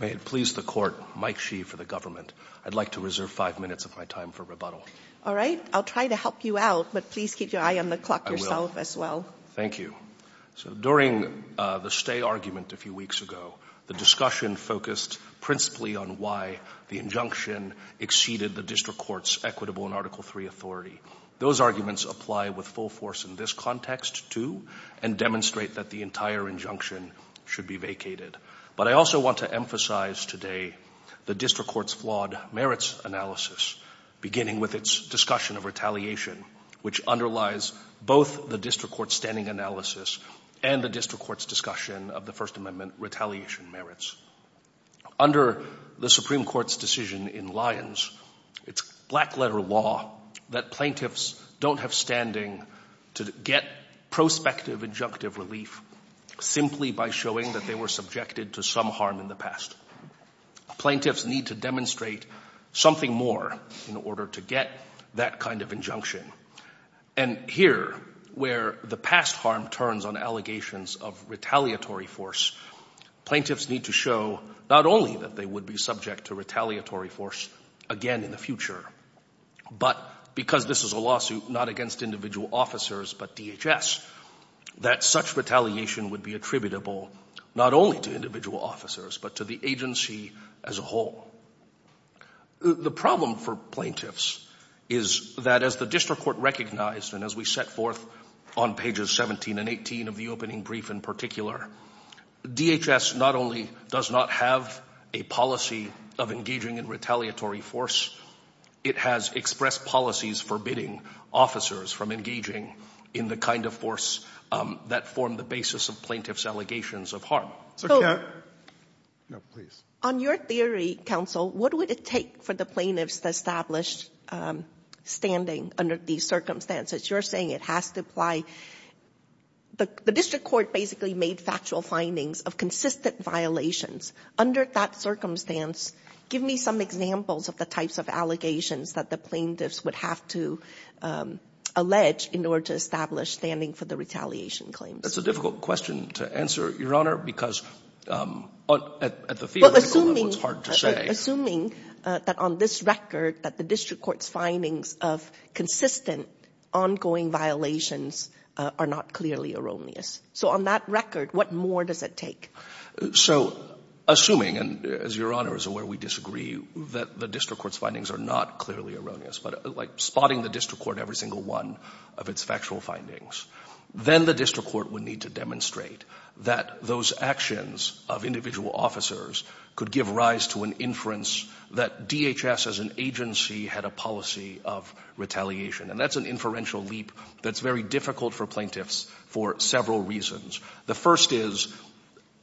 May it please the Court, Mike Shee for the Government. I'd like to reserve five minutes of my time for rebuttal. All right. I'll try to help you out, but please keep your eye on the clock yourself as well. I will. Thank you. So during the stay argument a few weeks ago, the discussion focused principally on why the injunction exceeded the District Court's equitable and Article III authority. Those arguments apply with full force in this context, too, and demonstrate that the entire injunction should be vacated. But I also want to emphasize today the District Court's flawed merits analysis, beginning with its discussion of retaliation, which underlies both the District Court's standing analysis and the District Court's discussion of the First Amendment retaliation merits. Under the Supreme Court's decision in Lyons, it's black-letter law that plaintiffs don't have standing to get prospective injunctive relief simply by showing that they were subjected to some harm in the past. Plaintiffs need to demonstrate something more in order to get that kind of injunction. And here, where the past harm turns on allegations of retaliatory force, plaintiffs need to show not only that they would be subject to retaliatory force again in the future, but because this is a lawsuit not against individual officers but DHS, that such retaliation would be attributable not only to individual officers but to the agency as a whole. The problem for plaintiffs is that as the District Court recognized and as we set forth on pages 17 and 18 of the opening brief in particular, DHS not only does not have a policy of engaging in retaliatory force, it has expressed policies forbidding officers from engaging in the kind of force that form the basis of plaintiffs' allegations of harm. On your theory, counsel, what would it take for the plaintiffs to establish standing under these circumstances? You're saying it has to apply. The District Court basically made factual findings of consistent violations. Under that circumstance, give me some examples of the types of allegations that the plaintiffs would have to allege in order to establish standing for the retaliation claims. That's a difficult question to answer, Your Honor, because at the theoretical level, it's hard to say. Assuming that on this record that the District Court's findings of consistent ongoing violations are not clearly erroneous. So on that record, what more does it take? So assuming, and as Your Honor is aware, we disagree that the District Court's findings are not clearly erroneous, but like spotting the District Court every single one of its factual findings, then the District Court would need to demonstrate that those actions of individual officers could give rise to an inference that DHS as an agency had a policy of retaliation. And that's an inferential leap that's very difficult for plaintiffs for several reasons. The first is,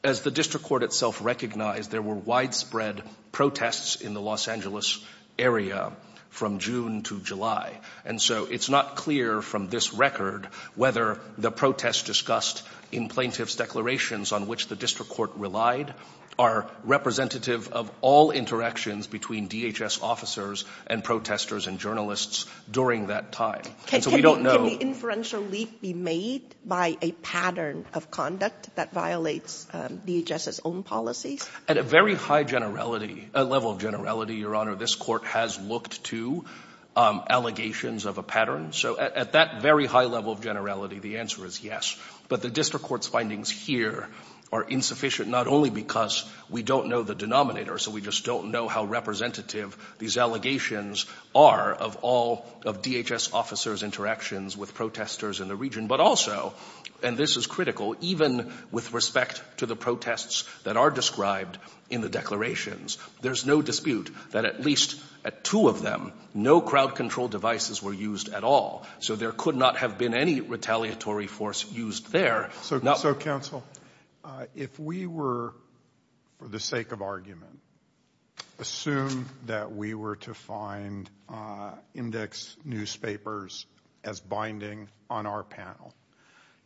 as the District Court itself recognized, there were widespread protests in the Los Angeles area from June to July. And so it's not clear from this record whether the protests discussed in plaintiff's declarations on which the District Court relied are representative of all interactions between DHS officers and protesters and journalists during that time. And so we don't know. Can the inferential leap be made by a pattern of conduct that violates DHS's own policies? At a very high level of generality, Your Honor, this Court has looked to allegations of a pattern. So at that very high level of generality, the answer is yes. But the District Court's findings here are insufficient not only because we don't know the denominator, so we just don't know how representative these allegations are of all of DHS officers' interactions with protesters in the region, but also, and this is critical, even with respect to the protests that are described in the declarations, there's no dispute that at least at two of them, no crowd control devices were used at all. So there could not have been any retaliatory force used there. So, Counsel, if we were, for the sake of argument, assume that we were to find index newspapers as binding on our panel.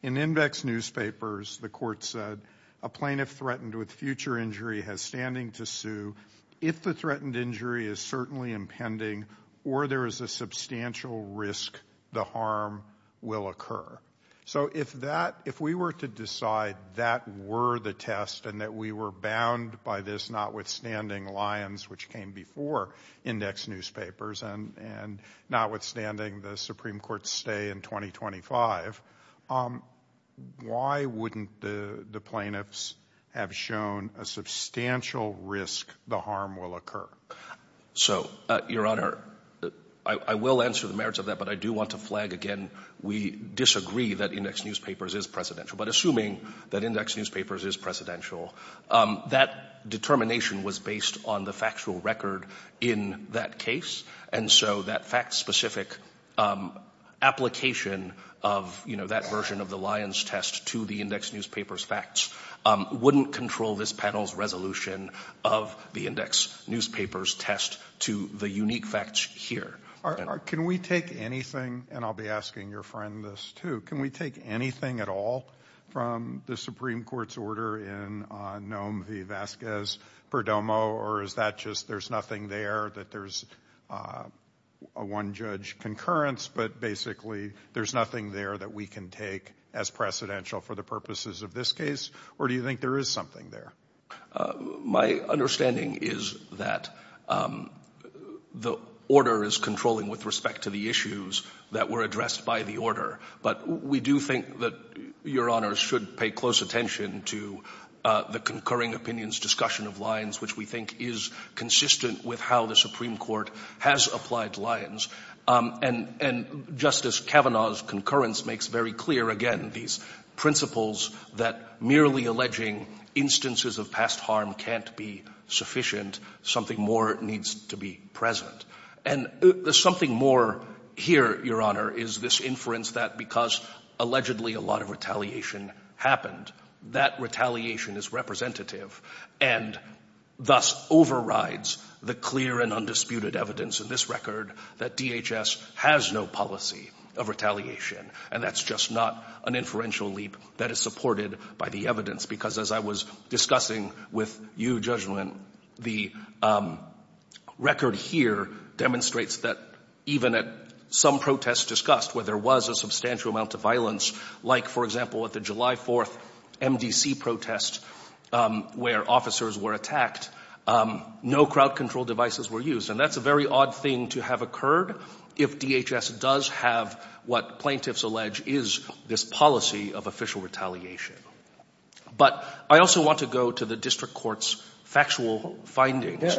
In index newspapers, the Court said a plaintiff threatened with future injury has standing to sue if the threatened injury is certainly impending or there is a substantial risk the harm will occur. So if that, if we were to decide that were the test and that we were bound by this, notwithstanding Lyons, which came before index newspapers, and notwithstanding the Supreme Court's stay in 2025, why wouldn't the plaintiffs have shown a substantial risk the harm will occur? So, Your Honor, I will answer the merits of that, but I do want to flag again, we disagree that index newspapers is precedential, but assuming that index newspapers is precedential, that determination was based on the factual record in that case, and so that fact-specific application of, you know, that version of the Lyons test to the index newspapers facts wouldn't control this panel's resolution of the index newspapers test to the unique facts here. Can we take anything, and I'll be asking your friend this too, can we take anything at all from the Supreme Court's order in Nome v. Vasquez-Perdomo, or is that just there's nothing there, that there's a one-judge concurrence, but basically there's nothing there that we can take as precedential for the purposes of this case, or do you think there is something there? My understanding is that the order is controlling with respect to the issues that were addressed by the order, but we do think that Your Honor should pay close attention to the concurring opinions discussion of Lyons, which we think is consistent with how the Supreme Court has applied Lyons, and Justice Kavanaugh's concurrence makes very clear, again, these principles that merely alleging instances of past harm can't be sufficient. Something more needs to be present. And there's something more here, Your Honor, is this inference that because allegedly a lot of retaliation happened, that retaliation is representative and thus overrides the clear and undisputed evidence in this record that DHS has no policy of retaliation, and that's just not an inferential leap that is supported by the evidence, because as I was discussing with you, Judgment, the record here demonstrates that even at some protests discussed where there was a substantial amount of violence, like, for example, at the July 4th MDC protest where officers were attacked, no crowd control devices were used, and that's a very odd thing to have occurred if DHS does have what plaintiffs allege is this policy of official retaliation. But I also want to go to the district court's factual findings.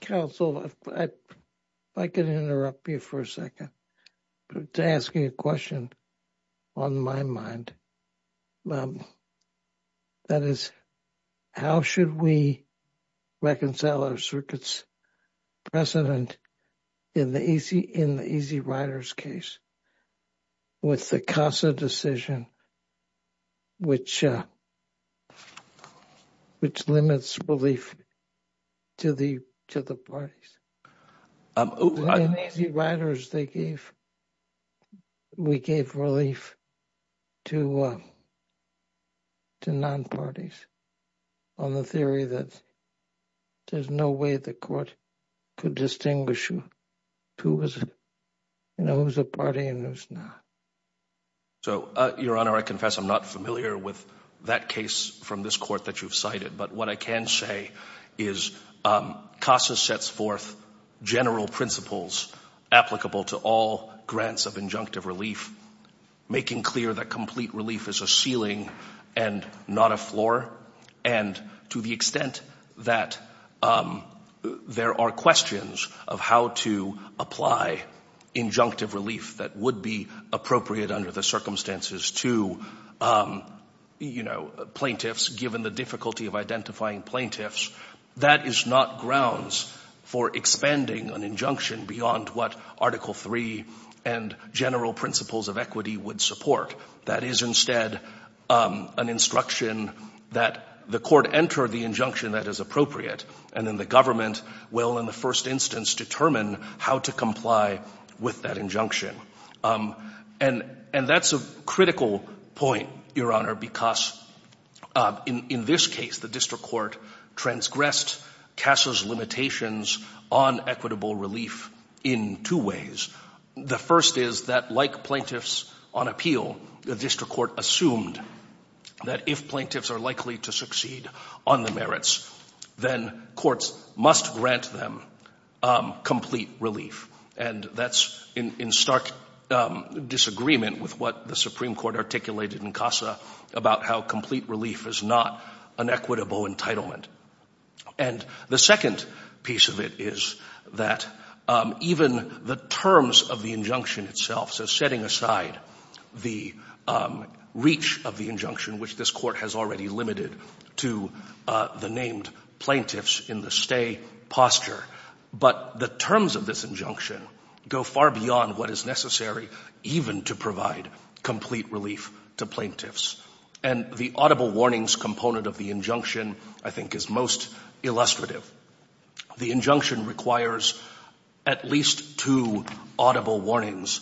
Counsel, if I could interrupt you for a second to ask you a question on my mind. That is, how should we reconcile our circuit's precedent in the Easy Rider's case with the CASA decision which limits relief to the parties? In Easy Riders, we gave relief to non-parties on the theory that there's no way the court could distinguish who's a party and who's not. So, Your Honor, I confess I'm not familiar with that case from this court that you've cited, but what I can say is CASA sets forth general principles applicable to all grants of injunctive relief, making clear that complete relief is a ceiling and not a floor, and to the extent that there are questions of how to apply injunctive relief that would be appropriate under the circumstances to plaintiffs, given the difficulty of identifying plaintiffs, that is not grounds for expanding an injunction beyond what Article III and general principles of equity would support. That is instead an instruction that the court enter the injunction that is appropriate, and then the government will, in the first instance, determine how to comply with that injunction. And that's a critical point, Your Honor, because in this case, the district court transgressed CASA's limitations on equitable relief in two ways. The first is that like plaintiffs on appeal, the district court assumed that if plaintiffs are likely to succeed on the merits, then courts must grant them complete relief. And that's in stark disagreement with what the Supreme Court articulated in CASA about how complete relief is not an equitable entitlement. And the second piece of it is that even the terms of the injunction itself, so setting aside the reach of the injunction, which this court has already limited to the named plaintiffs in the stay posture, but the terms of this injunction go far beyond what is necessary even to provide complete relief to plaintiffs. And the audible warnings component of the injunction, I think, is most illustrative. The injunction requires at least two audible warnings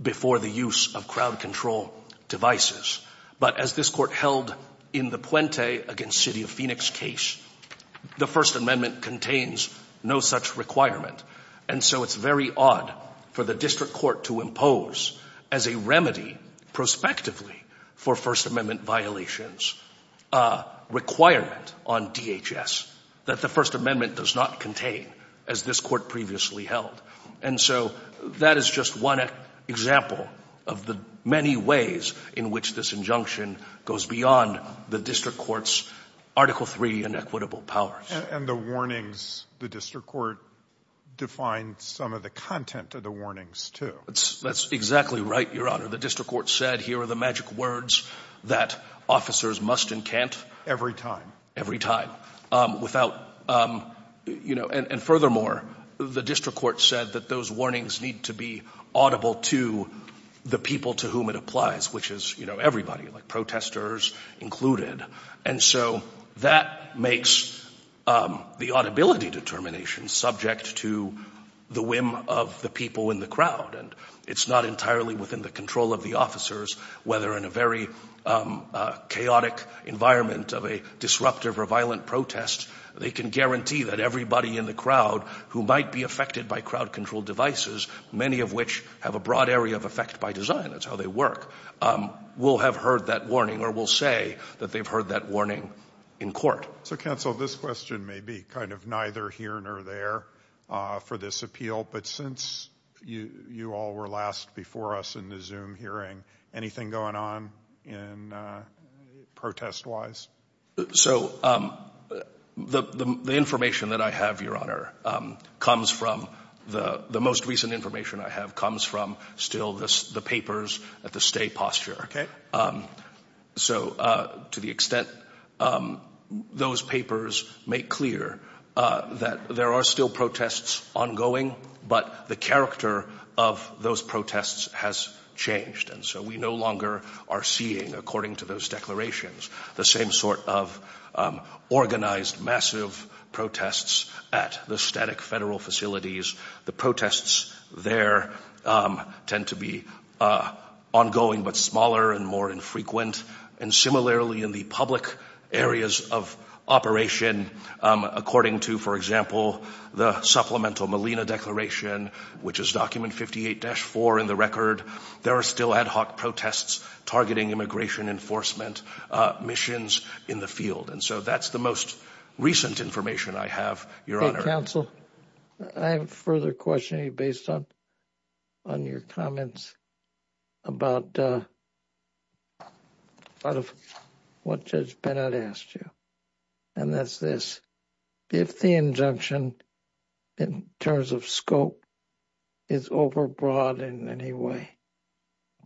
before the use of crowd control devices. But as this court held in the Puente against City of Phoenix case, the First Amendment contains no such requirement. And so it's very odd for the district court to impose as a remedy prospectively for First Amendment violations a requirement on DHS that the First Amendment does not contain, as this court previously held. And so that is just one example of the many ways in which this injunction goes beyond the district court's Article III inequitable powers. And the warnings, the district court defined some of the content of the warnings, too. That's exactly right, Your Honor. The district court said, here are the magic words that officers must and can't. Every time. Every time. And furthermore, the district court said that those warnings need to be audible to the people to whom it applies, which is everybody, like protesters included. And so that makes the audibility determination subject to the whim of the people in the crowd. And it's not entirely within the control of the officers, whether in a very chaotic environment of a disruptive or violent protest, they can guarantee that everybody in the crowd who might be affected by crowd control devices, many of which have a broad area of effect by design, that's how they work, will have heard that warning or will say that they've heard that warning in court. So, counsel, this question may be kind of neither here nor there for this appeal. But since you all were last before us in the Zoom hearing, anything going on protest-wise? So, the information that I have, Your Honor, comes from, the most recent information I have, comes from still the papers at the State Posture. So, to the extent those papers make clear that there are still protests ongoing, but the character of those protests has changed. And so we no longer are seeing, according to those declarations, the same sort of organized massive protests at the static federal facilities. The protests there tend to be ongoing, but smaller and more infrequent. And similarly, in the public areas of operation, according to, for example, the supplemental Molina Declaration, which is document 58-4 in the record, there are still ad hoc protests targeting immigration enforcement missions in the field. And so that's the most recent information I have, Your Honor. Counsel, I have a further question based on your comments about what Judge Bennett asked you. And that's this. If the injunction in terms of scope is overbroad in any way,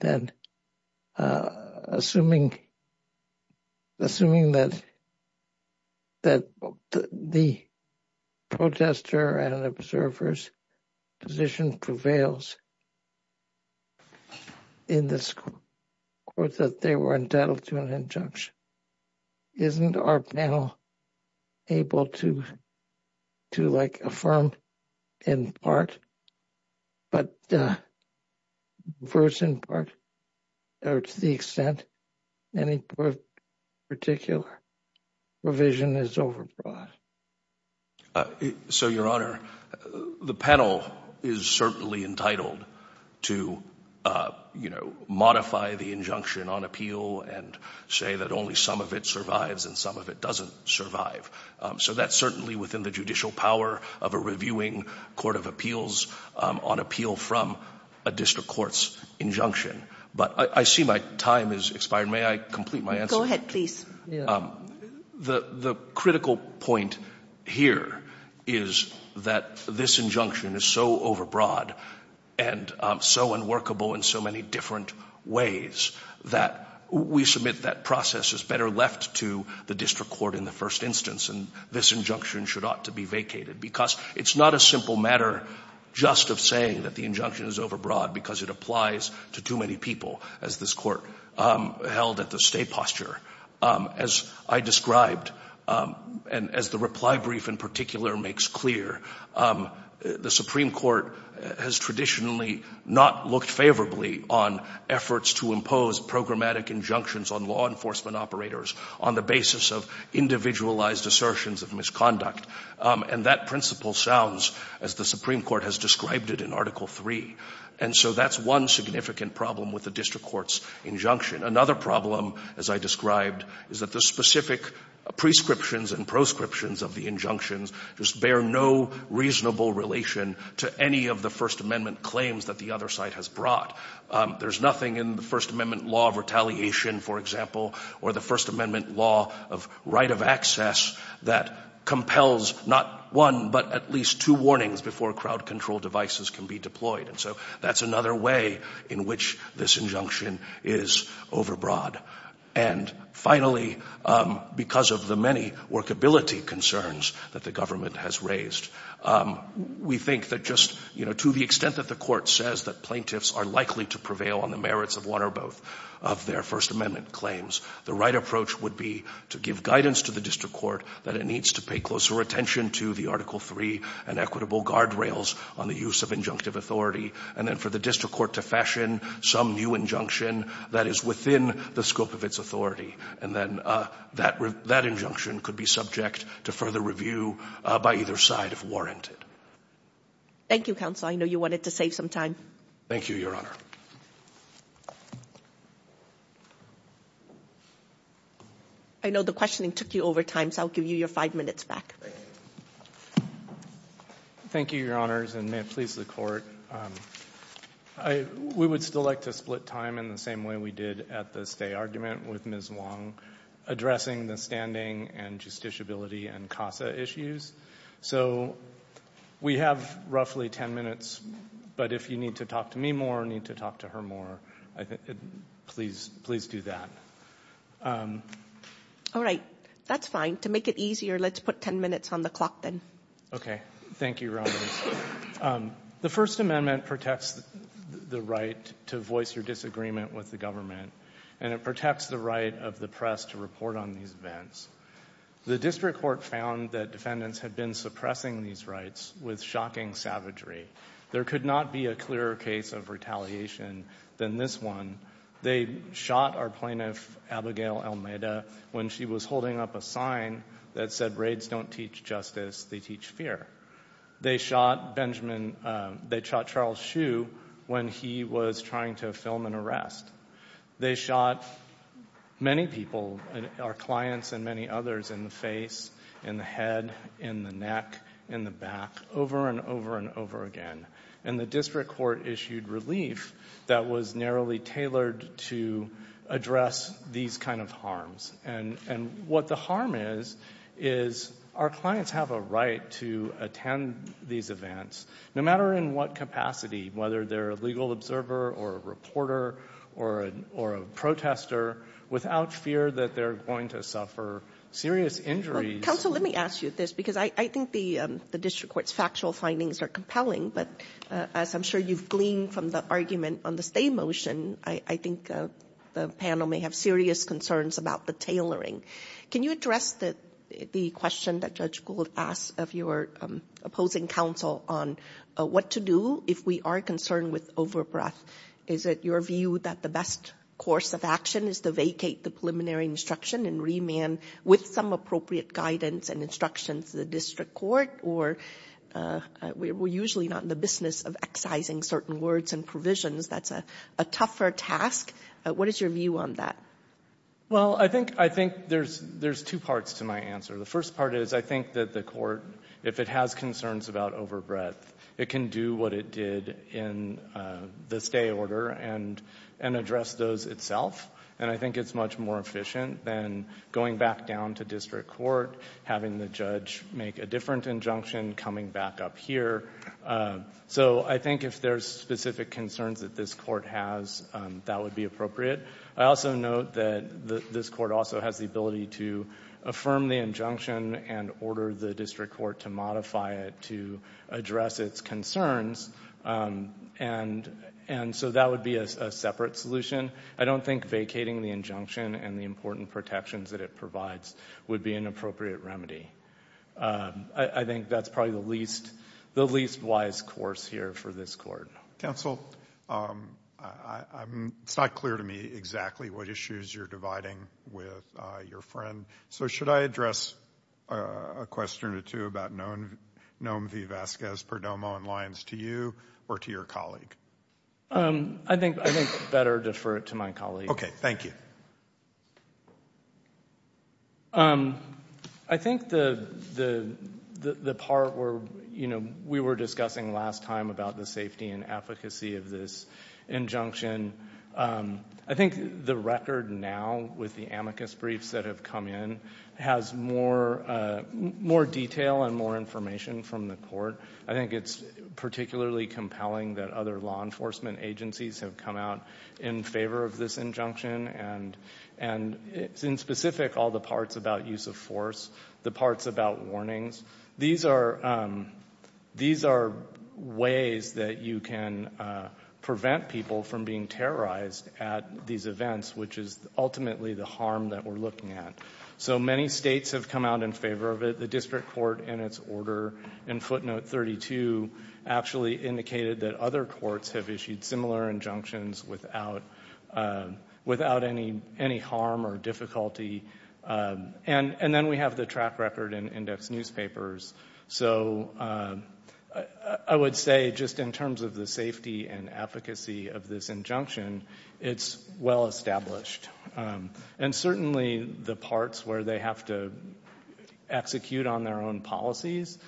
then assuming that the protester and observer's position prevails in this court, that they were entitled to an injunction, isn't our panel able to, like, affirm in part, but to the extent any particular provision is overbroad? So, Your Honor, the panel is certainly entitled to, you know, modify the injunction on appeal and say that only some of it survives and some of it doesn't survive. So that's certainly within the judicial power of a reviewing court of appeals on appeal from a district court's injunction. But I see my time has expired. May I complete my answer? Go ahead, please. The critical point here is that this injunction is so overbroad and so unworkable in so many different ways that we submit that process is better left to the district court in the first instance and this injunction should ought to be vacated. Because it's not a simple matter just of saying that the injunction is overbroad because it applies to too many people, as this court held at the state posture. As I described, and as the reply brief in particular makes clear, the Supreme Court has traditionally not looked favorably on efforts to impose programmatic injunctions on law enforcement operators on the basis of individualized assertions of misconduct. And that principle sounds, as the Supreme Court has described it in Article III. And so that's one significant problem with the district court's injunction. Another problem, as I described, is that the specific prescriptions and proscriptions of the injunctions just bear no reasonable relation to any of the First Amendment claims that the other side has brought. There's nothing in the First Amendment law of retaliation, for example, or the First Amendment law of right of access that compels not one, but at least two warnings before crowd control devices can be deployed. And so that's another way in which this injunction is overbroad. And finally, because of the many workability concerns that the government has raised, we think that just, you know, to the extent that the court says that plaintiffs are likely to prevail on the merits of one or both of their First Amendment claims, the right approach would be to give guidance to the district court that it needs to pay closer attention to the Article III and equitable guardrails on the use of injunctive authority, and then for the district court to fashion some new injunction that is within the scope of its authority. And then that injunction could be subject to further review by either side if warranted. Thank you, counsel. I know you wanted to save some time. Thank you, Your Honor. I know the questioning took you over time, so I'll give you your five minutes back. Thank you, Your Honors, and may it please the court. We would still like to split time in the same way we did at the stay argument with Ms. Wong, addressing the standing and justiciability and CASA issues. So we have roughly ten minutes, but if you need to talk to me more or need to talk to her more, please do that. All right. That's fine. To make it easier, let's put ten minutes on the clock then. Okay. Thank you, Your Honors. The First Amendment protects the right to voice your disagreement with the government, and it protects the right of the press to report on these events. The district court found that defendants had been suppressing these rights with shocking savagery. There could not be a clearer case of retaliation than this one. They shot our plaintiff, Abigail Almeida, when she was holding up a sign that said raids don't teach justice, they teach fear. They shot Charles Hsu when he was trying to film an arrest. They shot many people, our clients and many others, in the face, in the head, in the neck, in the back, over and over and over again. And the district court issued relief that was narrowly tailored to address these kind of harms. And what the harm is, is our clients have a right to attend these events, no matter in what capacity, whether they're a legal observer or a reporter or a protester, without fear that they're going to suffer serious injuries. Counsel, let me ask you this, because I think the district court's factual findings are compelling, but as I'm sure you've gleaned from the argument on the stay motion, I think the panel may have serious concerns about the tailoring. Can you address the question that Judge Gould asked of your opposing counsel on what to do if we are concerned with overbreadth? Is it your view that the best course of action is to vacate the preliminary instruction and remand with some appropriate guidance and instructions to the district court? Or we're usually not in the business of excising certain words and provisions. That's a tougher task. What is your view on that? Well, I think there's two parts to my answer. The first part is I think that the court, if it has concerns about overbreadth, it can do what it did in the stay order and address those itself, and I think it's much more efficient than going back down to district court, having the judge make a different injunction, coming back up here. So I think if there's specific concerns that this court has, that would be appropriate. I also note that this court also has the ability to affirm the injunction and order the district court to modify it to address its concerns, and so that would be a separate solution. I don't think vacating the injunction and the important protections that it provides would be an appropriate remedy. I think that's probably the least wise course here for this court. Counsel, it's not clear to me exactly what issues you're dividing with your friend, so should I address a question or two about Nome v. Vasquez, Perdomo, and Lyons to you or to your colleague? I think it's better to defer it to my colleague. Okay, thank you. I think the part where, you know, we were discussing last time about the safety and efficacy of this injunction. I think the record now, with the amicus briefs that have come in, has more detail and more information from the court. I think it's particularly compelling that other law enforcement agencies have come out in favor of this injunction, and in specific, all the parts about use of force, the parts about warnings. These are ways that you can prevent people from being terrorized at these events, which is ultimately the harm that we're looking at. So many states have come out in favor of it. The district court, in its order in footnote 32, actually indicated that other courts have issued similar injunctions without any harm or difficulty. And then we have the track record in index newspapers. So I would say, just in terms of the safety and efficacy of this injunction, it's well established. And certainly the parts where they have to execute on their own policies,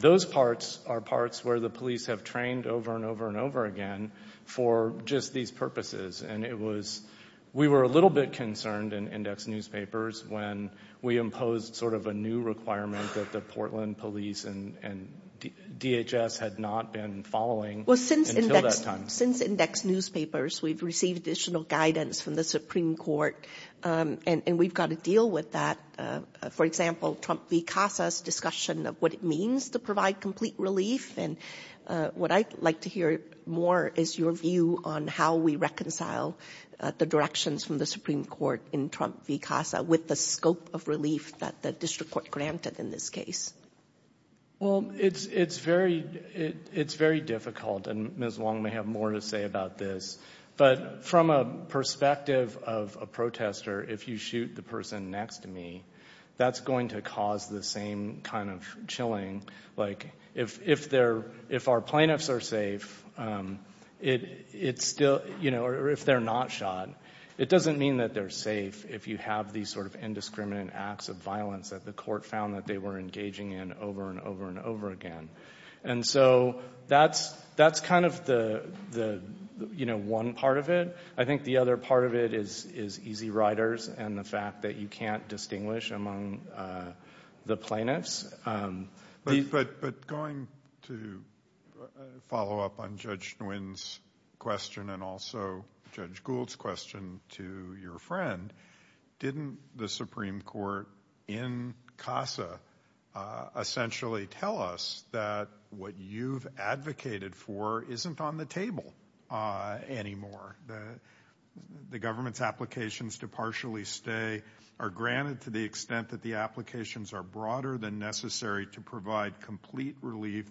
those parts are parts where the police have trained over and over and over again for just these purposes. We were a little bit concerned in index newspapers when we imposed sort of a new requirement that the Portland Police and DHS had not been following until that time. Well, since index newspapers, we've received additional guidance from the Supreme Court, and we've got to deal with that. For example, Trump v. Casa's discussion of what it means to provide complete relief, and what I'd like to hear more is your view on how we reconcile the directions from the Supreme Court in Trump v. Casa with the scope of relief that the district court granted in this case. Well, it's very difficult, and Ms. Wong may have more to say about this, but from a perspective of a protester, if you shoot the person next to me, that's going to cause the same kind of chilling. Like, if our plaintiffs are safe, it's still, you know, or if they're not shot, it doesn't mean that they're safe if you have these sort of indiscriminate acts of violence that the court found that they were engaging in over and over and over again. And so that's kind of the, you know, one part of it. I think the other part of it is easy riders and the fact that you can't distinguish among the plaintiffs. But going to follow up on Judge Nguyen's question and also Judge Gould's question to your friend, didn't the Supreme Court in Casa essentially tell us that what you've advocated for isn't on the table anymore? The government's applications to partially stay are granted to the extent that the applications are broader than necessary to provide complete relief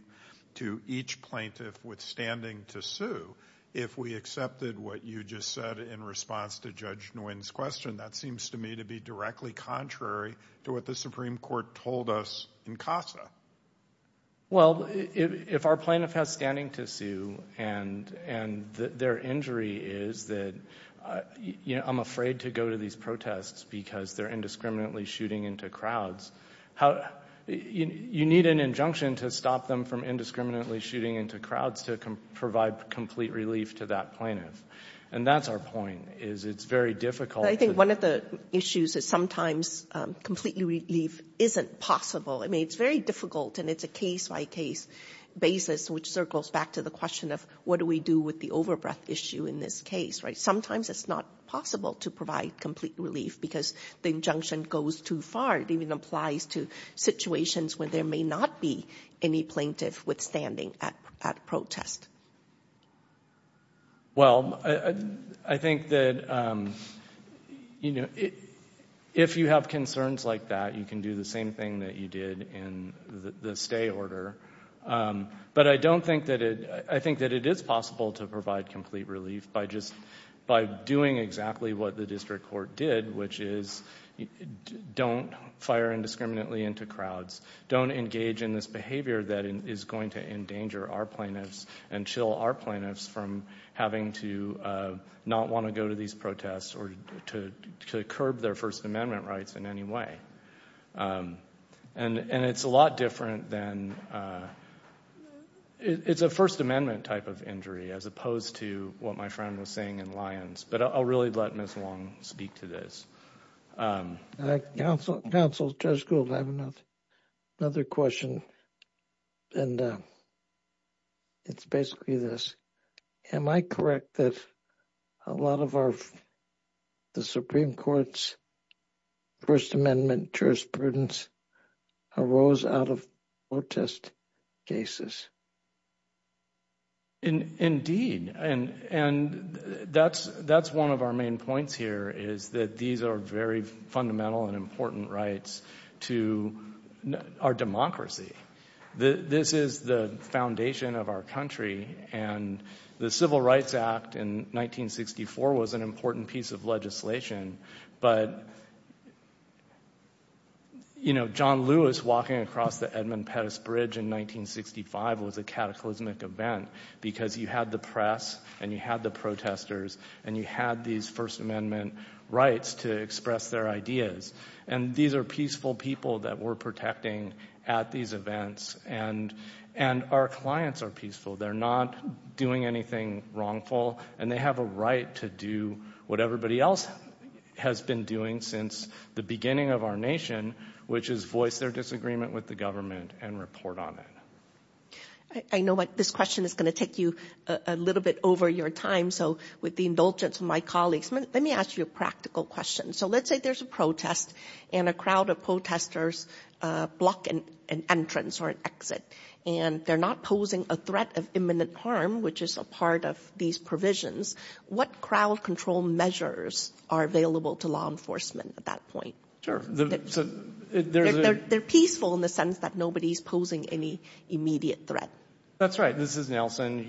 to each plaintiff withstanding to sue. If we accepted what you just said in response to Judge Nguyen's question, that seems to me to be directly contrary to what the Supreme Court told us in Casa. Well, if our plaintiff has standing to sue and their injury is that, you know, I'm afraid to go to these protests because they're indiscriminately shooting into crowds, you need an injunction to stop them from indiscriminately shooting into crowds to provide complete relief to that plaintiff. And that's our point, is it's very difficult. I think one of the issues is sometimes complete relief isn't possible. I mean, it's very difficult and it's a case-by-case basis which circles back to the question of what do we do with the overbreath issue in this case, right? Sometimes it's not possible to provide complete relief because the injunction goes too far. It even applies to situations where there may not be any plaintiff withstanding at protest. Well, I think that, you know, if you have concerns like that, you can do the same thing that you did in the stay order. But I don't think that it... I think that it is possible to provide complete relief by doing exactly what the district court did, which is don't fire indiscriminately into crowds, don't engage in this behaviour that is going to endanger our plaintiffs and chill our plaintiffs from having to not want to go to these protests or to curb their First Amendment rights in any way. And it's a lot different than... It's a First Amendment type of injury as opposed to what my friend was saying in Lyons. But I'll really let Ms. Long speak to this. Counsel, Judge Gould, I have another question. And it's basically this. Am I correct that a lot of our... the Supreme Court's First Amendment jurisprudence arose out of protest cases? Indeed. And that's one of our main points here, is that these are very fundamental and important rights to our democracy. This is the foundation of our country. And the Civil Rights Act in 1964 was an important piece of legislation. But, you know, John Lewis walking across the Edmund Pettus Bridge in 1965 was a cataclysmic event, because you had the press and you had the protesters and you had these First Amendment rights to express their ideas. And these are peaceful people that we're protecting at these events. And our clients are peaceful. They're not doing anything wrongful. And they have a right to do what everybody else has been doing since the beginning of our nation, which is voice their disagreement with the government and report on it. I know this question is going to take you a little bit over your time, so with the indulgence of my colleagues, let me ask you a practical question. So let's say there's a protest and a crowd of protesters block an entrance or an exit. And they're not posing a threat of imminent harm, which is a part of these provisions. What crowd control measures are available to law enforcement at that point? Sure. They're peaceful in the sense that nobody's posing any immediate threat. That's right. This is Nelson.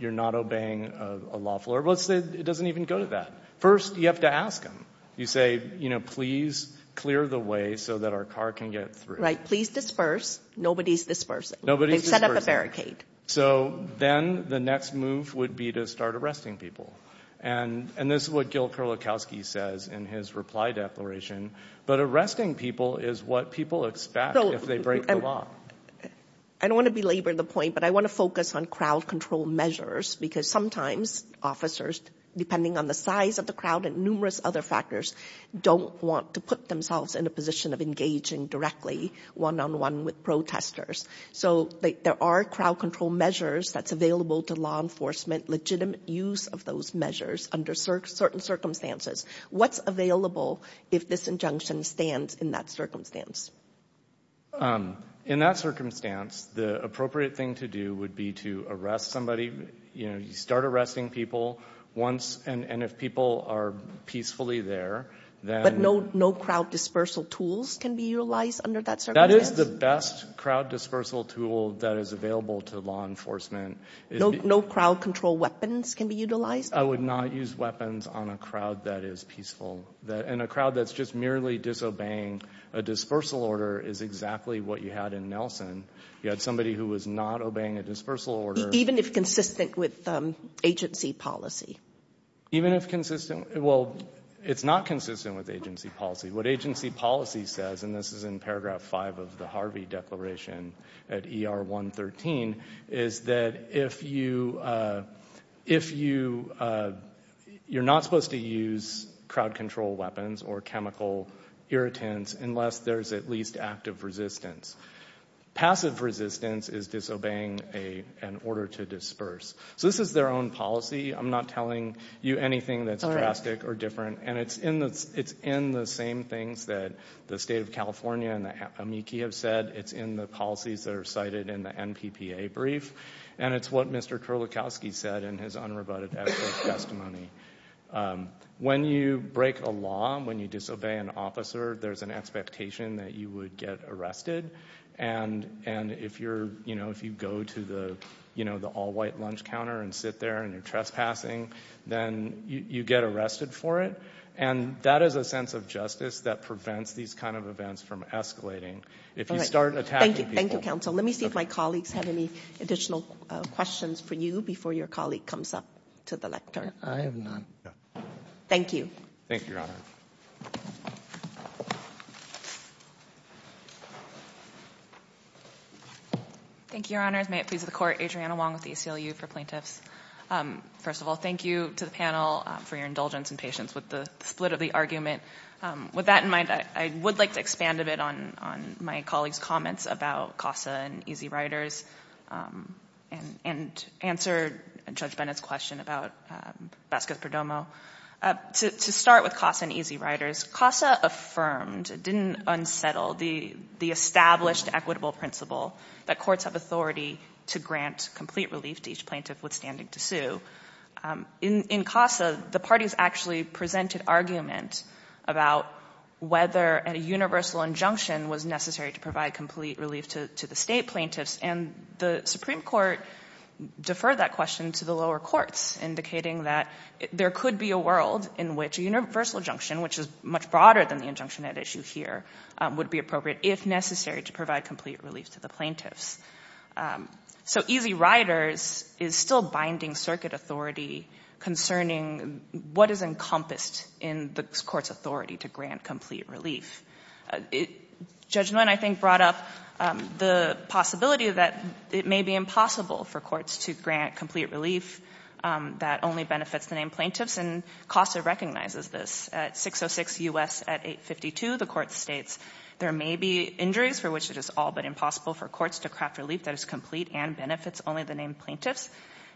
You're not obeying a lawful... Let's say it doesn't even go to that. First, you have to ask them. You say, you know, please clear the way so that our car can get through. Right. Please disperse. Nobody's dispersing. They've set up a barricade. So then the next move would be to start arresting people. And this is what Gil Kerlikowske says in his reply declaration. But arresting people is what people expect if they break the law. I don't want to belabor the point, but I want to focus on crowd control measures because sometimes officers, depending on the size of the crowd and numerous other factors, don't want to put themselves in a position of engaging directly one-on-one with protesters. So there are crowd control measures that's available to law enforcement, legitimate use of those measures under certain circumstances. What's available if this injunction stands in that circumstance? In that circumstance, the appropriate thing to do would be to arrest somebody. You know, you start arresting people once, and if people are peacefully there, then... But no crowd dispersal tools can be utilized under that circumstance? That is the best crowd dispersal tool that is available to law enforcement. No crowd control weapons can be utilized? I would not use weapons on a crowd that is peaceful. And a crowd that's just merely disobeying a dispersal order is exactly what you had in Nelson. You had somebody who was not obeying a dispersal order. Even if consistent with agency policy? Even if consistent? Well, it's not consistent with agency policy. What agency policy says, and this is in paragraph 5 of the Harvey Declaration at ER 113, is that if you... you're not supposed to use crowd control weapons or chemical irritants unless there's at least active resistance. Passive resistance is disobeying an order to disperse. So this is their own policy. I'm not telling you anything that's drastic or different. And it's in the same things that the state of California and the amici have said. It's in the policies that are cited in the NPPA brief. And it's what Mr. Kurlikowski said in his unrebutted evidence testimony. When you break a law, when you disobey an officer, there's an expectation that you would get arrested. And if you go to the all-white lunch counter and sit there and you're trespassing, then you get arrested for it. And that is a sense of justice that prevents these kind of events from escalating if you start attacking people. Let me see if my colleagues have any additional questions for you before your colleague comes up to the lectern. Thank you. Thank you, Your Honor. Thank you, Your Honors. May it please the Court. Adriana Wong with the ACLU for Plaintiffs. First of all, thank you to the panel for your indulgence and patience with the split of the argument. With that in mind, I would like to expand a bit on my colleagues' comments about CASA and Easy Riders and answer Judge Bennett's question about Vasquez-Perdomo. To start with CASA and Easy Riders, CASA affirmed, didn't unsettle, the established equitable principle that courts have authority to grant complete relief to each plaintiff withstanding to sue. In CASA, the parties actually presented argument about whether a universal injunction was necessary to provide complete relief to the state plaintiffs, and the Supreme Court deferred that question to the lower courts, indicating that there could be a world in which a universal injunction, which is much broader than the injunction at issue here, would be appropriate if necessary to provide complete relief to the plaintiffs. So Easy Riders is still binding circuit authority concerning what is encompassed in the court's authority to grant complete relief. Judge Nguyen, I think, brought up the possibility that it may be impossible for courts to grant complete relief that only benefits the named plaintiffs, and CASA recognizes this. At 606 U.S. at 852, the court states, there may be injuries for which it is all but impossible for courts to craft relief that is complete and benefits only the named plaintiffs.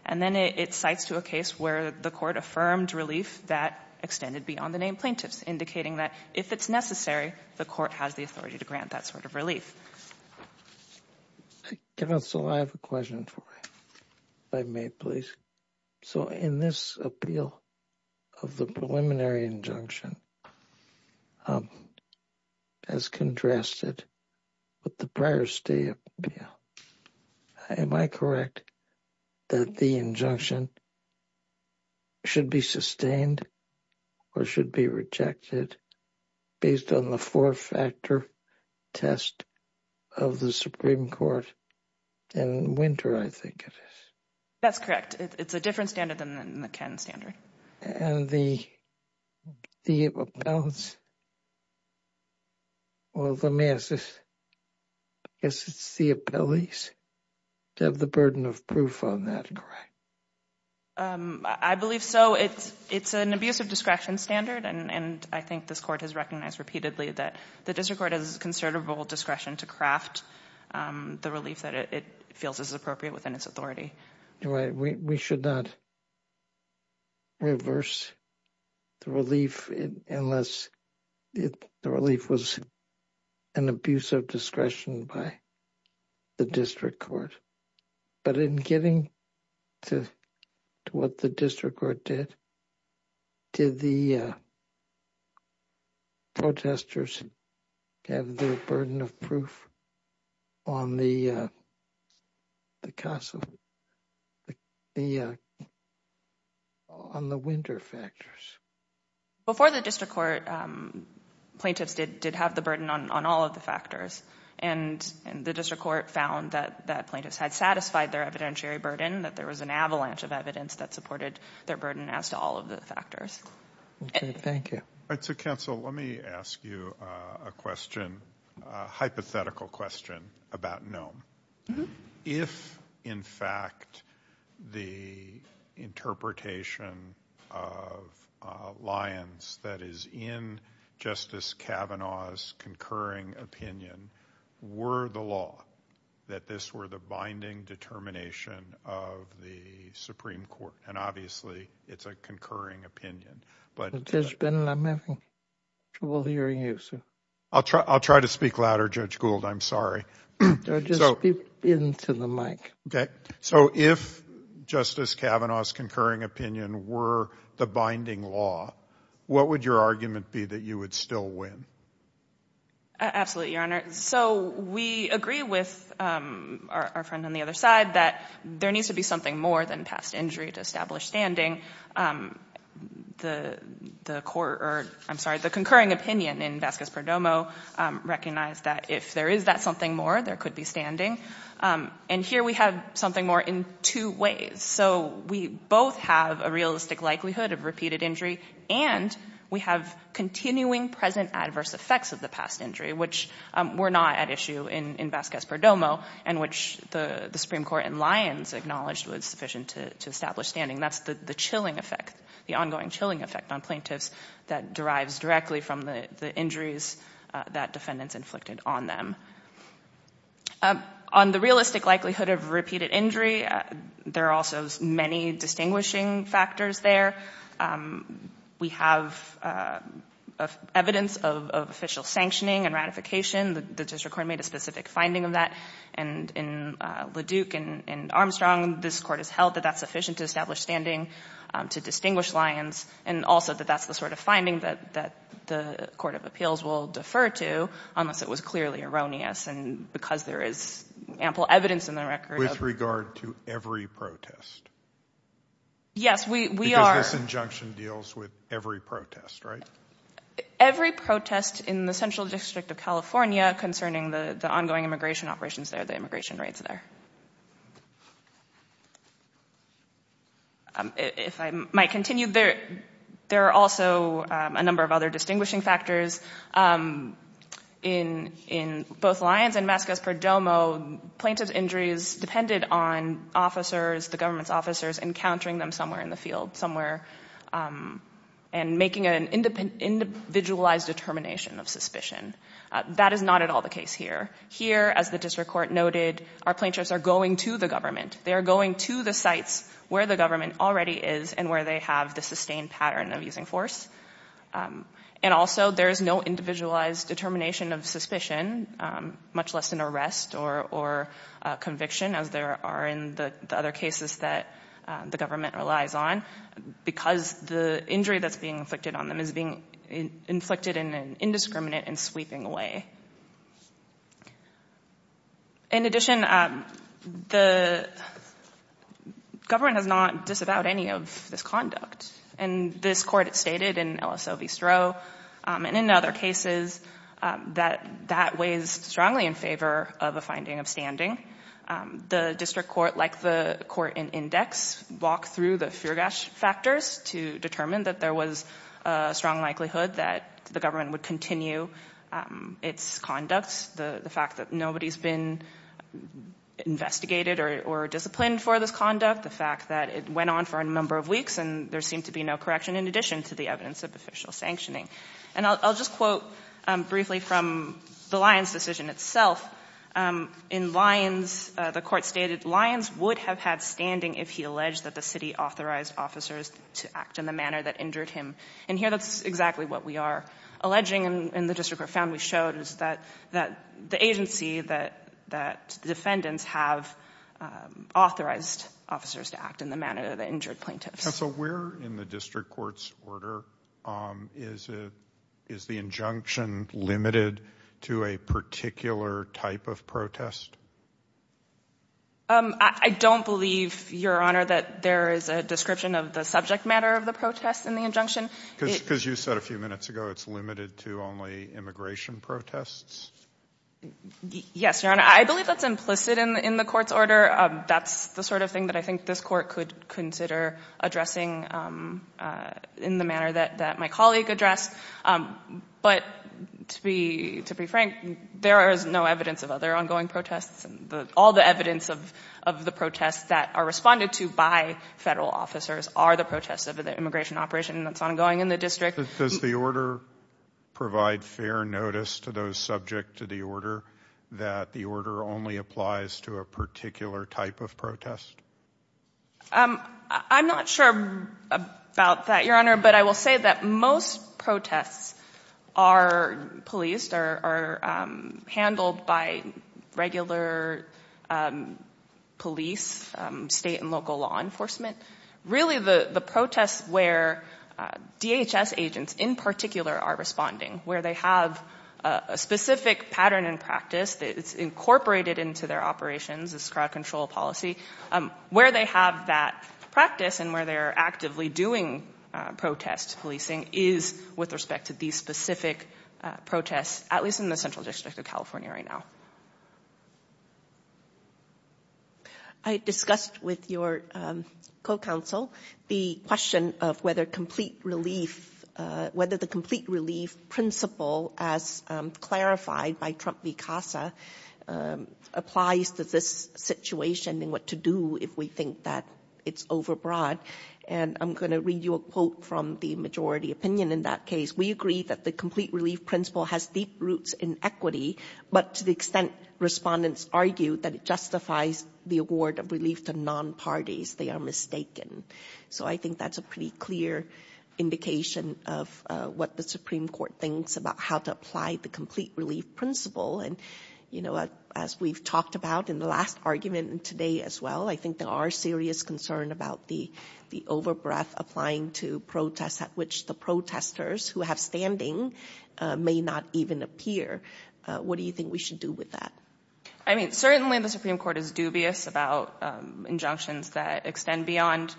And then it cites to a case where the court affirmed relief that extended beyond the named plaintiffs, indicating that if it's necessary, the court has the authority to grant that sort of relief. Counsel, I have a question for you. If I may, please. So in this appeal of the preliminary injunction, as contrasted with the prior state appeal, am I correct that the injunction should be sustained or should be rejected based on the four-factor test of the Supreme Court in winter, I think it is? That's correct. It's a different standard than the Ken standard. And the the appellants, well, let me ask this. I guess it's the appellees to have the burden of proof on that, correct? I believe so. It's an abuse of discretion standard, and I think this court has recognized repeatedly that the district court has considerable discretion to craft the relief that it feels is appropriate within its authority. We should not reverse the relief unless the relief was an abuse of discretion by the district court. But in getting to what the district court did, did the protesters have their burden of proof on the winter factors? Before the district court, plaintiffs did have the burden on all of the factors. And the district court found that plaintiffs had satisfied their evidentiary burden, that there was an avalanche of evidence that supported their burden as to all of the factors. Thank you. Counsel, let me ask you a question, a hypothetical question about Nome. If, in fact, the interpretation of the alliance that is in Justice Kavanaugh's concurring opinion were the law, that this were the binding determination of the Supreme Court, and obviously it's a concurring opinion, but... I'm having trouble hearing you, sir. I'll try to speak louder, Judge Gould, I'm sorry. Just speak into the mic. Okay. So if Justice Kavanaugh's concurring opinion were the binding law, what would your argument be that you would still win? Absolutely, Your Honor. So we agree with our friend on the other side that there needs to be something more than past injury to establish standing. The concurring opinion in Vasquez-Perdomo recognized that if there is that something more, there could be standing. And here we have something more in two ways. So we both have a realistic likelihood of repeated injury and we have continuing present adverse effects of the past injury, which were not at issue in Vasquez-Perdomo, and which the Supreme Court in Lyons acknowledged was sufficient to establish standing. That's the chilling effect, the ongoing chilling effect on plaintiffs that derives directly from the injuries that defendants inflicted on them. On the realistic likelihood of repeated injury, there are also many distinguishing factors there. We have evidence of official sanctioning and ratification. The District Court made a specific finding of that. In LaDuke and Armstrong, this Court has held that that's sufficient to establish standing, to distinguish Lyons, and also that that's the sort of finding that the Court of Appeals will defer to, unless it was clearly erroneous. And because there is ample evidence in the record. With regard to every protest? Yes, we are. Because this injunction deals with every protest, right? Every protest in the Central District of California concerning the ongoing immigration operations there, the immigration raids there. If I might continue, there are also a number of other distinguishing factors in both Lyons and Vasquez-Perdomo. Plaintiffs' injuries depended on officers, the government's officers, encountering them somewhere in the field, and making an individualized determination of suspicion. That is not at all the case here. Here, as the District Court noted, our plaintiffs are going to the government. They are going to the sites where the government already is, and where they have the sustained pattern of using force. And also, there is no individualized determination of suspicion, much less an arrest or conviction, as there are in the other cases that the government relies on. Because the injury that's being inflicted on them is being inflicted in an indiscriminate and sweeping way. In addition, the government has not disavowed any of this conduct. And this Court stated in LSO v. Stroh, and in other cases, that that weighs strongly in favor of a finding of standing. The District Court, like the Court in Index, walked through the Feergash factors to determine that there was a strong likelihood that the government would continue its conduct. The fact that nobody's been investigated or disciplined for this conduct, the fact that it went on for a number of weeks, and there seemed to be no correction in addition to the evidence of official sanctioning. And I'll just quote briefly from the Lyons decision itself. In Lyons, the Court stated, Lyons would have had standing if he alleged that the city authorized officers to act in the manner that injured him. And here, that's exactly what we are alleging. And the District Court found, we showed, is that the agency that defendants have authorized officers to act in the manner that injured plaintiffs. Counsel, where in the District Court's order is the injunction limited to a particular type of I don't believe, Your Honor, that there is a description of the subject matter of the protest in the injunction. Because you said a few minutes ago, it's limited to only immigration protests? Yes, Your Honor. I believe that's implicit in the Court's order. That's the sort of thing that I think this Court could consider addressing in the manner that my colleague addressed. But, to be frank, there is no evidence of other ongoing protests. All the evidence of the protests that are responded to by federal officers are the protests of the immigration operation that's ongoing in the District. Does the order provide fair notice to those subject to the injunction that the order only applies to a particular type of protest? I'm not sure about that, Your Honor, but I will say that most protests are policed, are handled by regular police, state and local law enforcement. Really, the protests where DHS agents in particular are responding, where they have a specific pattern and practice that's incorporated into their operations, this crowd control policy, where they have that practice and where they are actively doing protest policing is with respect to these specific protests, at least in the Central District of California right now. I discussed with your co-counsel the question of whether complete relief, whether the complete relief principle as clarified by Trump v. Casa applies to this situation and what to do if we think that it's overbroad. I'm going to read you a quote from the majority opinion in that case. We agree that the complete relief principle has deep roots in equity, but to the extent respondents argue that it justifies the award of relief to non-parties, they are mistaken. I think that's a pretty clear indication of what the Supreme Court thinks about how to apply the complete relief principle. As we've talked about in the last argument and today as well, I think there are serious concerns about the overbreath applying to protests at which the protesters who have standing may not even appear. What do you think we should do with that? Certainly the Supreme Court is dubious about injunctions that extend beyond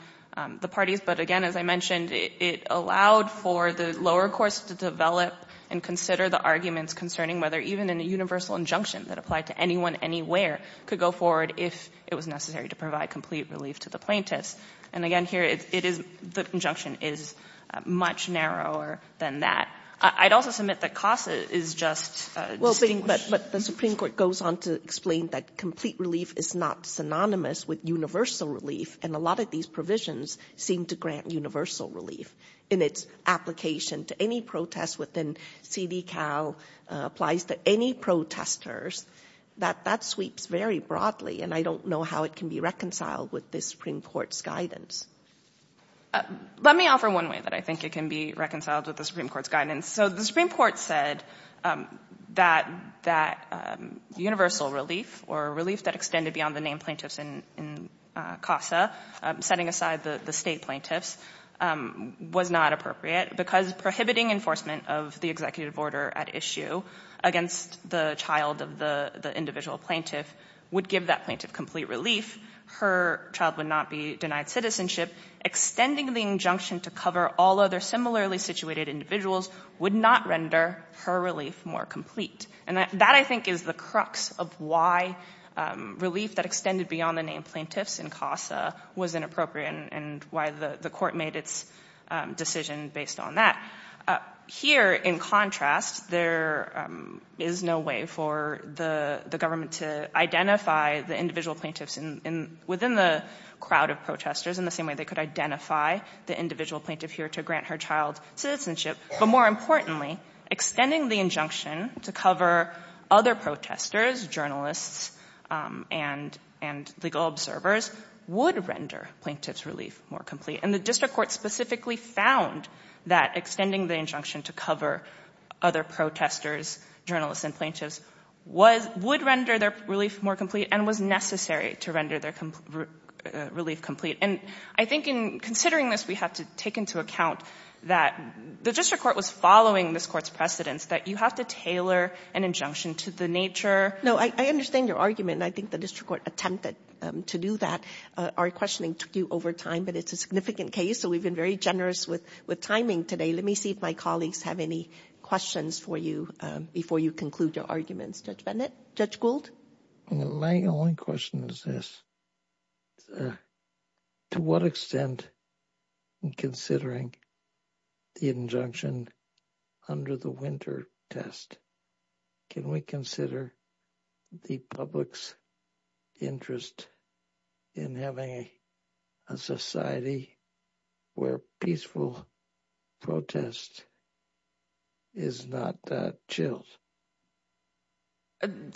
the parties, but again as I mentioned it allowed for the lower courts to develop and consider the arguments concerning whether even a universal injunction that applied to anyone anywhere could go forward if it was necessary to provide complete relief to the plaintiffs. And again here the injunction is much narrower than that. I'd also submit that Casa is just Well, but the Supreme Court goes on to explain that complete relief is not synonymous with universal relief and a lot of these provisions seem to grant universal relief in its application to any protest within CDCAL applies to any protesters. That sweeps very broadly and I don't know how it can be reconciled with the Supreme Court's guidance. Let me offer one way that I think it can be reconciled with the Supreme Court's guidance. So the Supreme Court said that universal relief or relief that extended beyond the named plaintiffs in Casa, setting aside the state plaintiffs, was not appropriate because prohibiting enforcement of the executive order at issue against the child of the individual plaintiff would give that plaintiff complete relief. Her child would not be denied citizenship. Extending the injunction to cover all other similarly situated individuals would not render her relief more complete. And that I think is the crux of why relief that extended beyond the named plaintiffs in Casa was inappropriate and why the court made its decision based on that. Here, in contrast, there is no way for the government to identify the individual plaintiffs within the crowd of protesters in the same way they could identify the individual plaintiff here to grant her child citizenship. But more importantly, extending the injunction to cover other protesters, and legal observers would render plaintiffs' relief more complete. And the district court specifically found that extending the injunction to cover other protesters, journalists, and plaintiffs would render their relief more complete and was necessary to render their relief complete. And I think in considering this, we have to take into account that the district court was following this as a tailor, an injunction to the nature. No, I understand your argument, and I think the district court attempted to do that. Our questioning took you over time, but it's a significant case, so we've been very generous with timing today. Let me see if my colleagues have any questions for you before you conclude your arguments. Judge Bennett? Judge Gould? My only question is this. To what extent in considering the injunction under the winter test, can we consider the public's interest in having a society where peaceful protest is not chilled?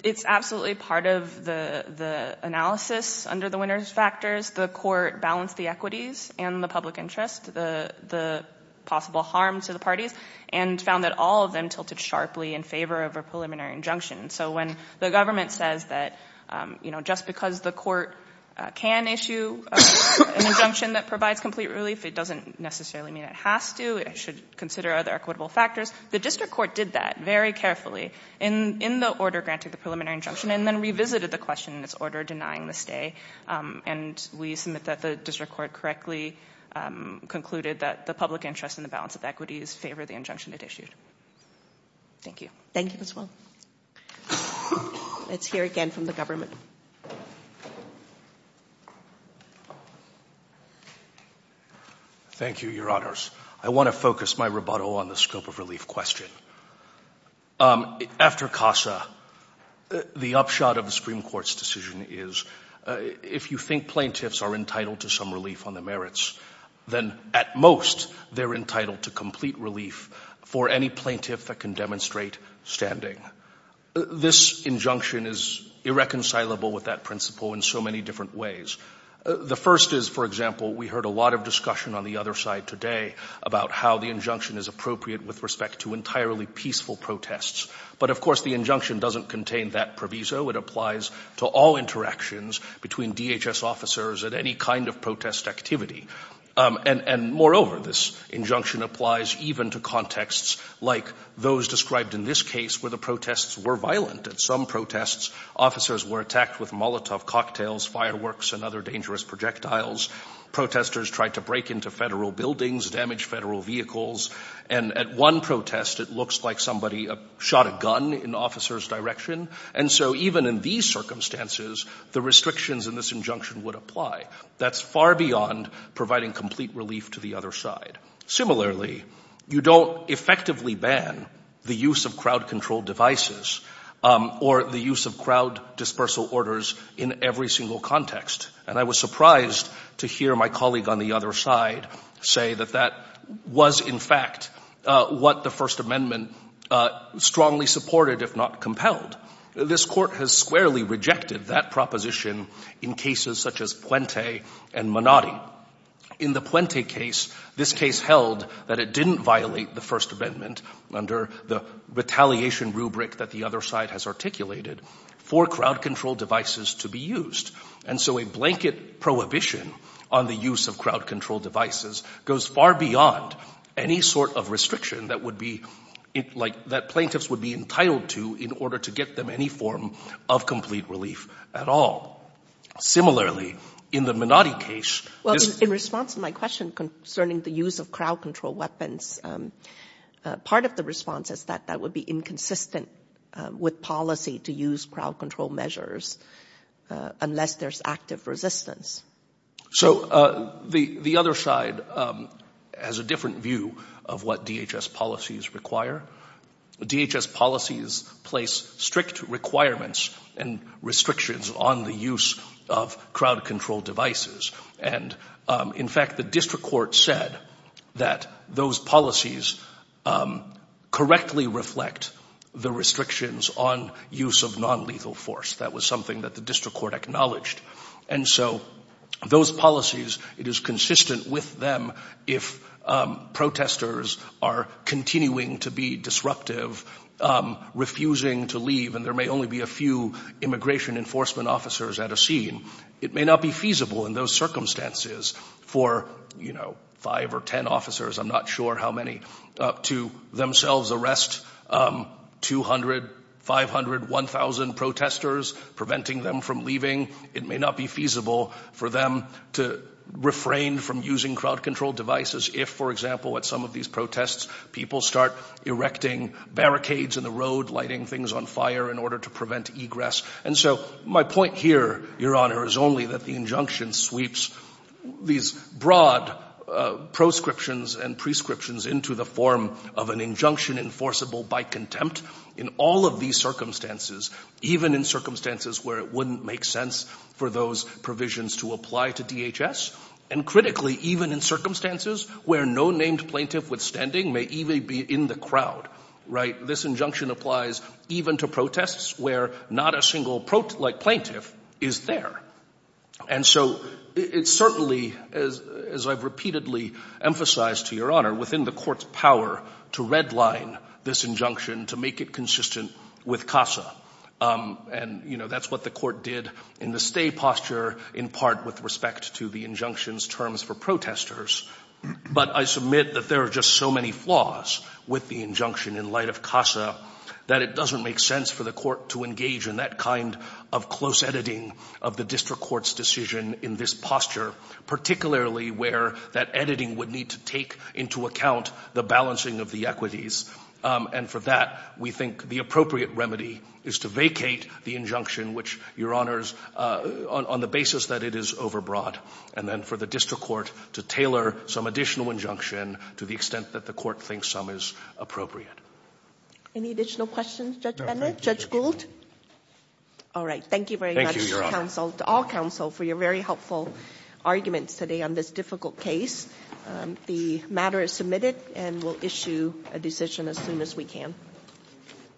It's absolutely part of the analysis under the winter's factors. The court balanced the equities and the public interest, the possible harm to the parties, and found that all of them tilted sharply in favor of a preliminary injunction. So when the government says that just because the court can issue an injunction that provides complete relief, it doesn't necessarily mean it has to. It should consider other equitable factors. The district court did that very carefully in the order granting the preliminary injunction, and then revisited the question in its order denying the stay. And we submit that the district court correctly concluded that the public interest in the balance of equities favor the injunction it issued. Thank you. Thank you, Ms. Wall. Let's hear again from the government. Thank you, Your Honors. I want to focus my rebuttal on the scope of relief question. After CASA, the upshot of the Supreme Court's decision is if you think plaintiffs are entitled to some relief on the merits, then at most, they're entitled to complete relief for any plaintiff that can demonstrate standing. This injunction is irreconcilable with that principle in so many different ways. The first is, for example, we heard a lot of discussion on the other side today about how the injunction is appropriate with respect to entirely peaceful protests. But of course, the injunction doesn't contain that proviso. It applies to all interactions between DHS officers at any kind of protest activity. And moreover, this injunction applies even to contexts like those described in this case where the protests were violent. At some protests, officers were attacked with Molotov cocktails, fireworks, and other dangerous projectiles. Protesters tried to break into federal buildings, damage federal vehicles. And at one protest, it looks like somebody shot a gun in the officer's direction. And so even in these circumstances, the restrictions in this injunction would apply. That's far beyond providing complete relief to the other side. Similarly, you don't effectively ban the use of crowd-controlled devices or the use of crowd dispersal orders in every single context. And I was surprised to hear my colleague on the other side say that that was, in fact, what the First Amendment strongly supported, if not repelled. This Court has squarely rejected that proposition in cases such as Puente and Menotti. In the Puente case, this case held that it didn't violate the First Amendment under the retaliation rubric that the other side has articulated for crowd-controlled devices to be used. And so a blanket prohibition on the use of crowd-controlled devices goes far beyond any sort of restriction that would be like that plaintiffs would be entitled to in order to get them any form of complete relief at all. Similarly, in the Menotti case... In response to my question concerning the use of crowd-controlled weapons, part of the response is that that would be inconsistent with policy to use crowd-controlled measures unless there's active resistance. So the other side has a different view of what DHS policies require. DHS policies place strict requirements and restrictions on the use of crowd-controlled devices. And in fact, the District Court said that those policies correctly reflect the restrictions on use of non-lethal force. That was something that the District Court acknowledged. And so those policies, it is consistent with them if protesters are continuing to be disruptive, refusing to leave, and there may only be a few immigration enforcement officers at a scene, it may not be feasible in those circumstances for five or ten officers, I'm not sure how many, to themselves arrest 200, 500, 1,000 protesters, preventing them from leaving. It may not be feasible for them to refrain from using crowd-controlled devices if, for example, at some of these protests, people start erecting barricades in the road, lighting things on fire in order to prevent egress. And so my point here, Your Honor, is only that the injunction sweeps these broad proscriptions and prescriptions into the form of an injunction enforceable by contempt in all of these circumstances, even in circumstances where it wouldn't make sense for those provisions to apply to DHS, and critically, even in circumstances where no named plaintiff withstanding may even be in the crowd. This injunction applies even to protests where not a single plaintiff is there. And so it's certainly, as I've repeatedly emphasized to Your Honor, within the Court's power to redline this injunction, to make it consistent with CASA. And that's what the Court did in the stay posture in part with respect to the injunction's terms for protesters. But I submit that there are just so many flaws with the injunction in light of CASA that it doesn't make sense for the Court to engage in that kind of close editing of the District Court's decision in this posture, particularly where that editing would need to take into account the balancing of the equities. And for that, we think the appropriate remedy is to vacate the injunction, which, Your Honors, on the basis that it is overbroad, and then for the District Court to tailor some additional injunction to the extent that the Court thinks some is appropriate. Any additional questions, Judge Bennett? Judge Gould? All right. Thank you very much, counsel, to all counsel, for your very helpful arguments today on this difficult case. The matter is submitted, and we'll issue a decision as soon as we can.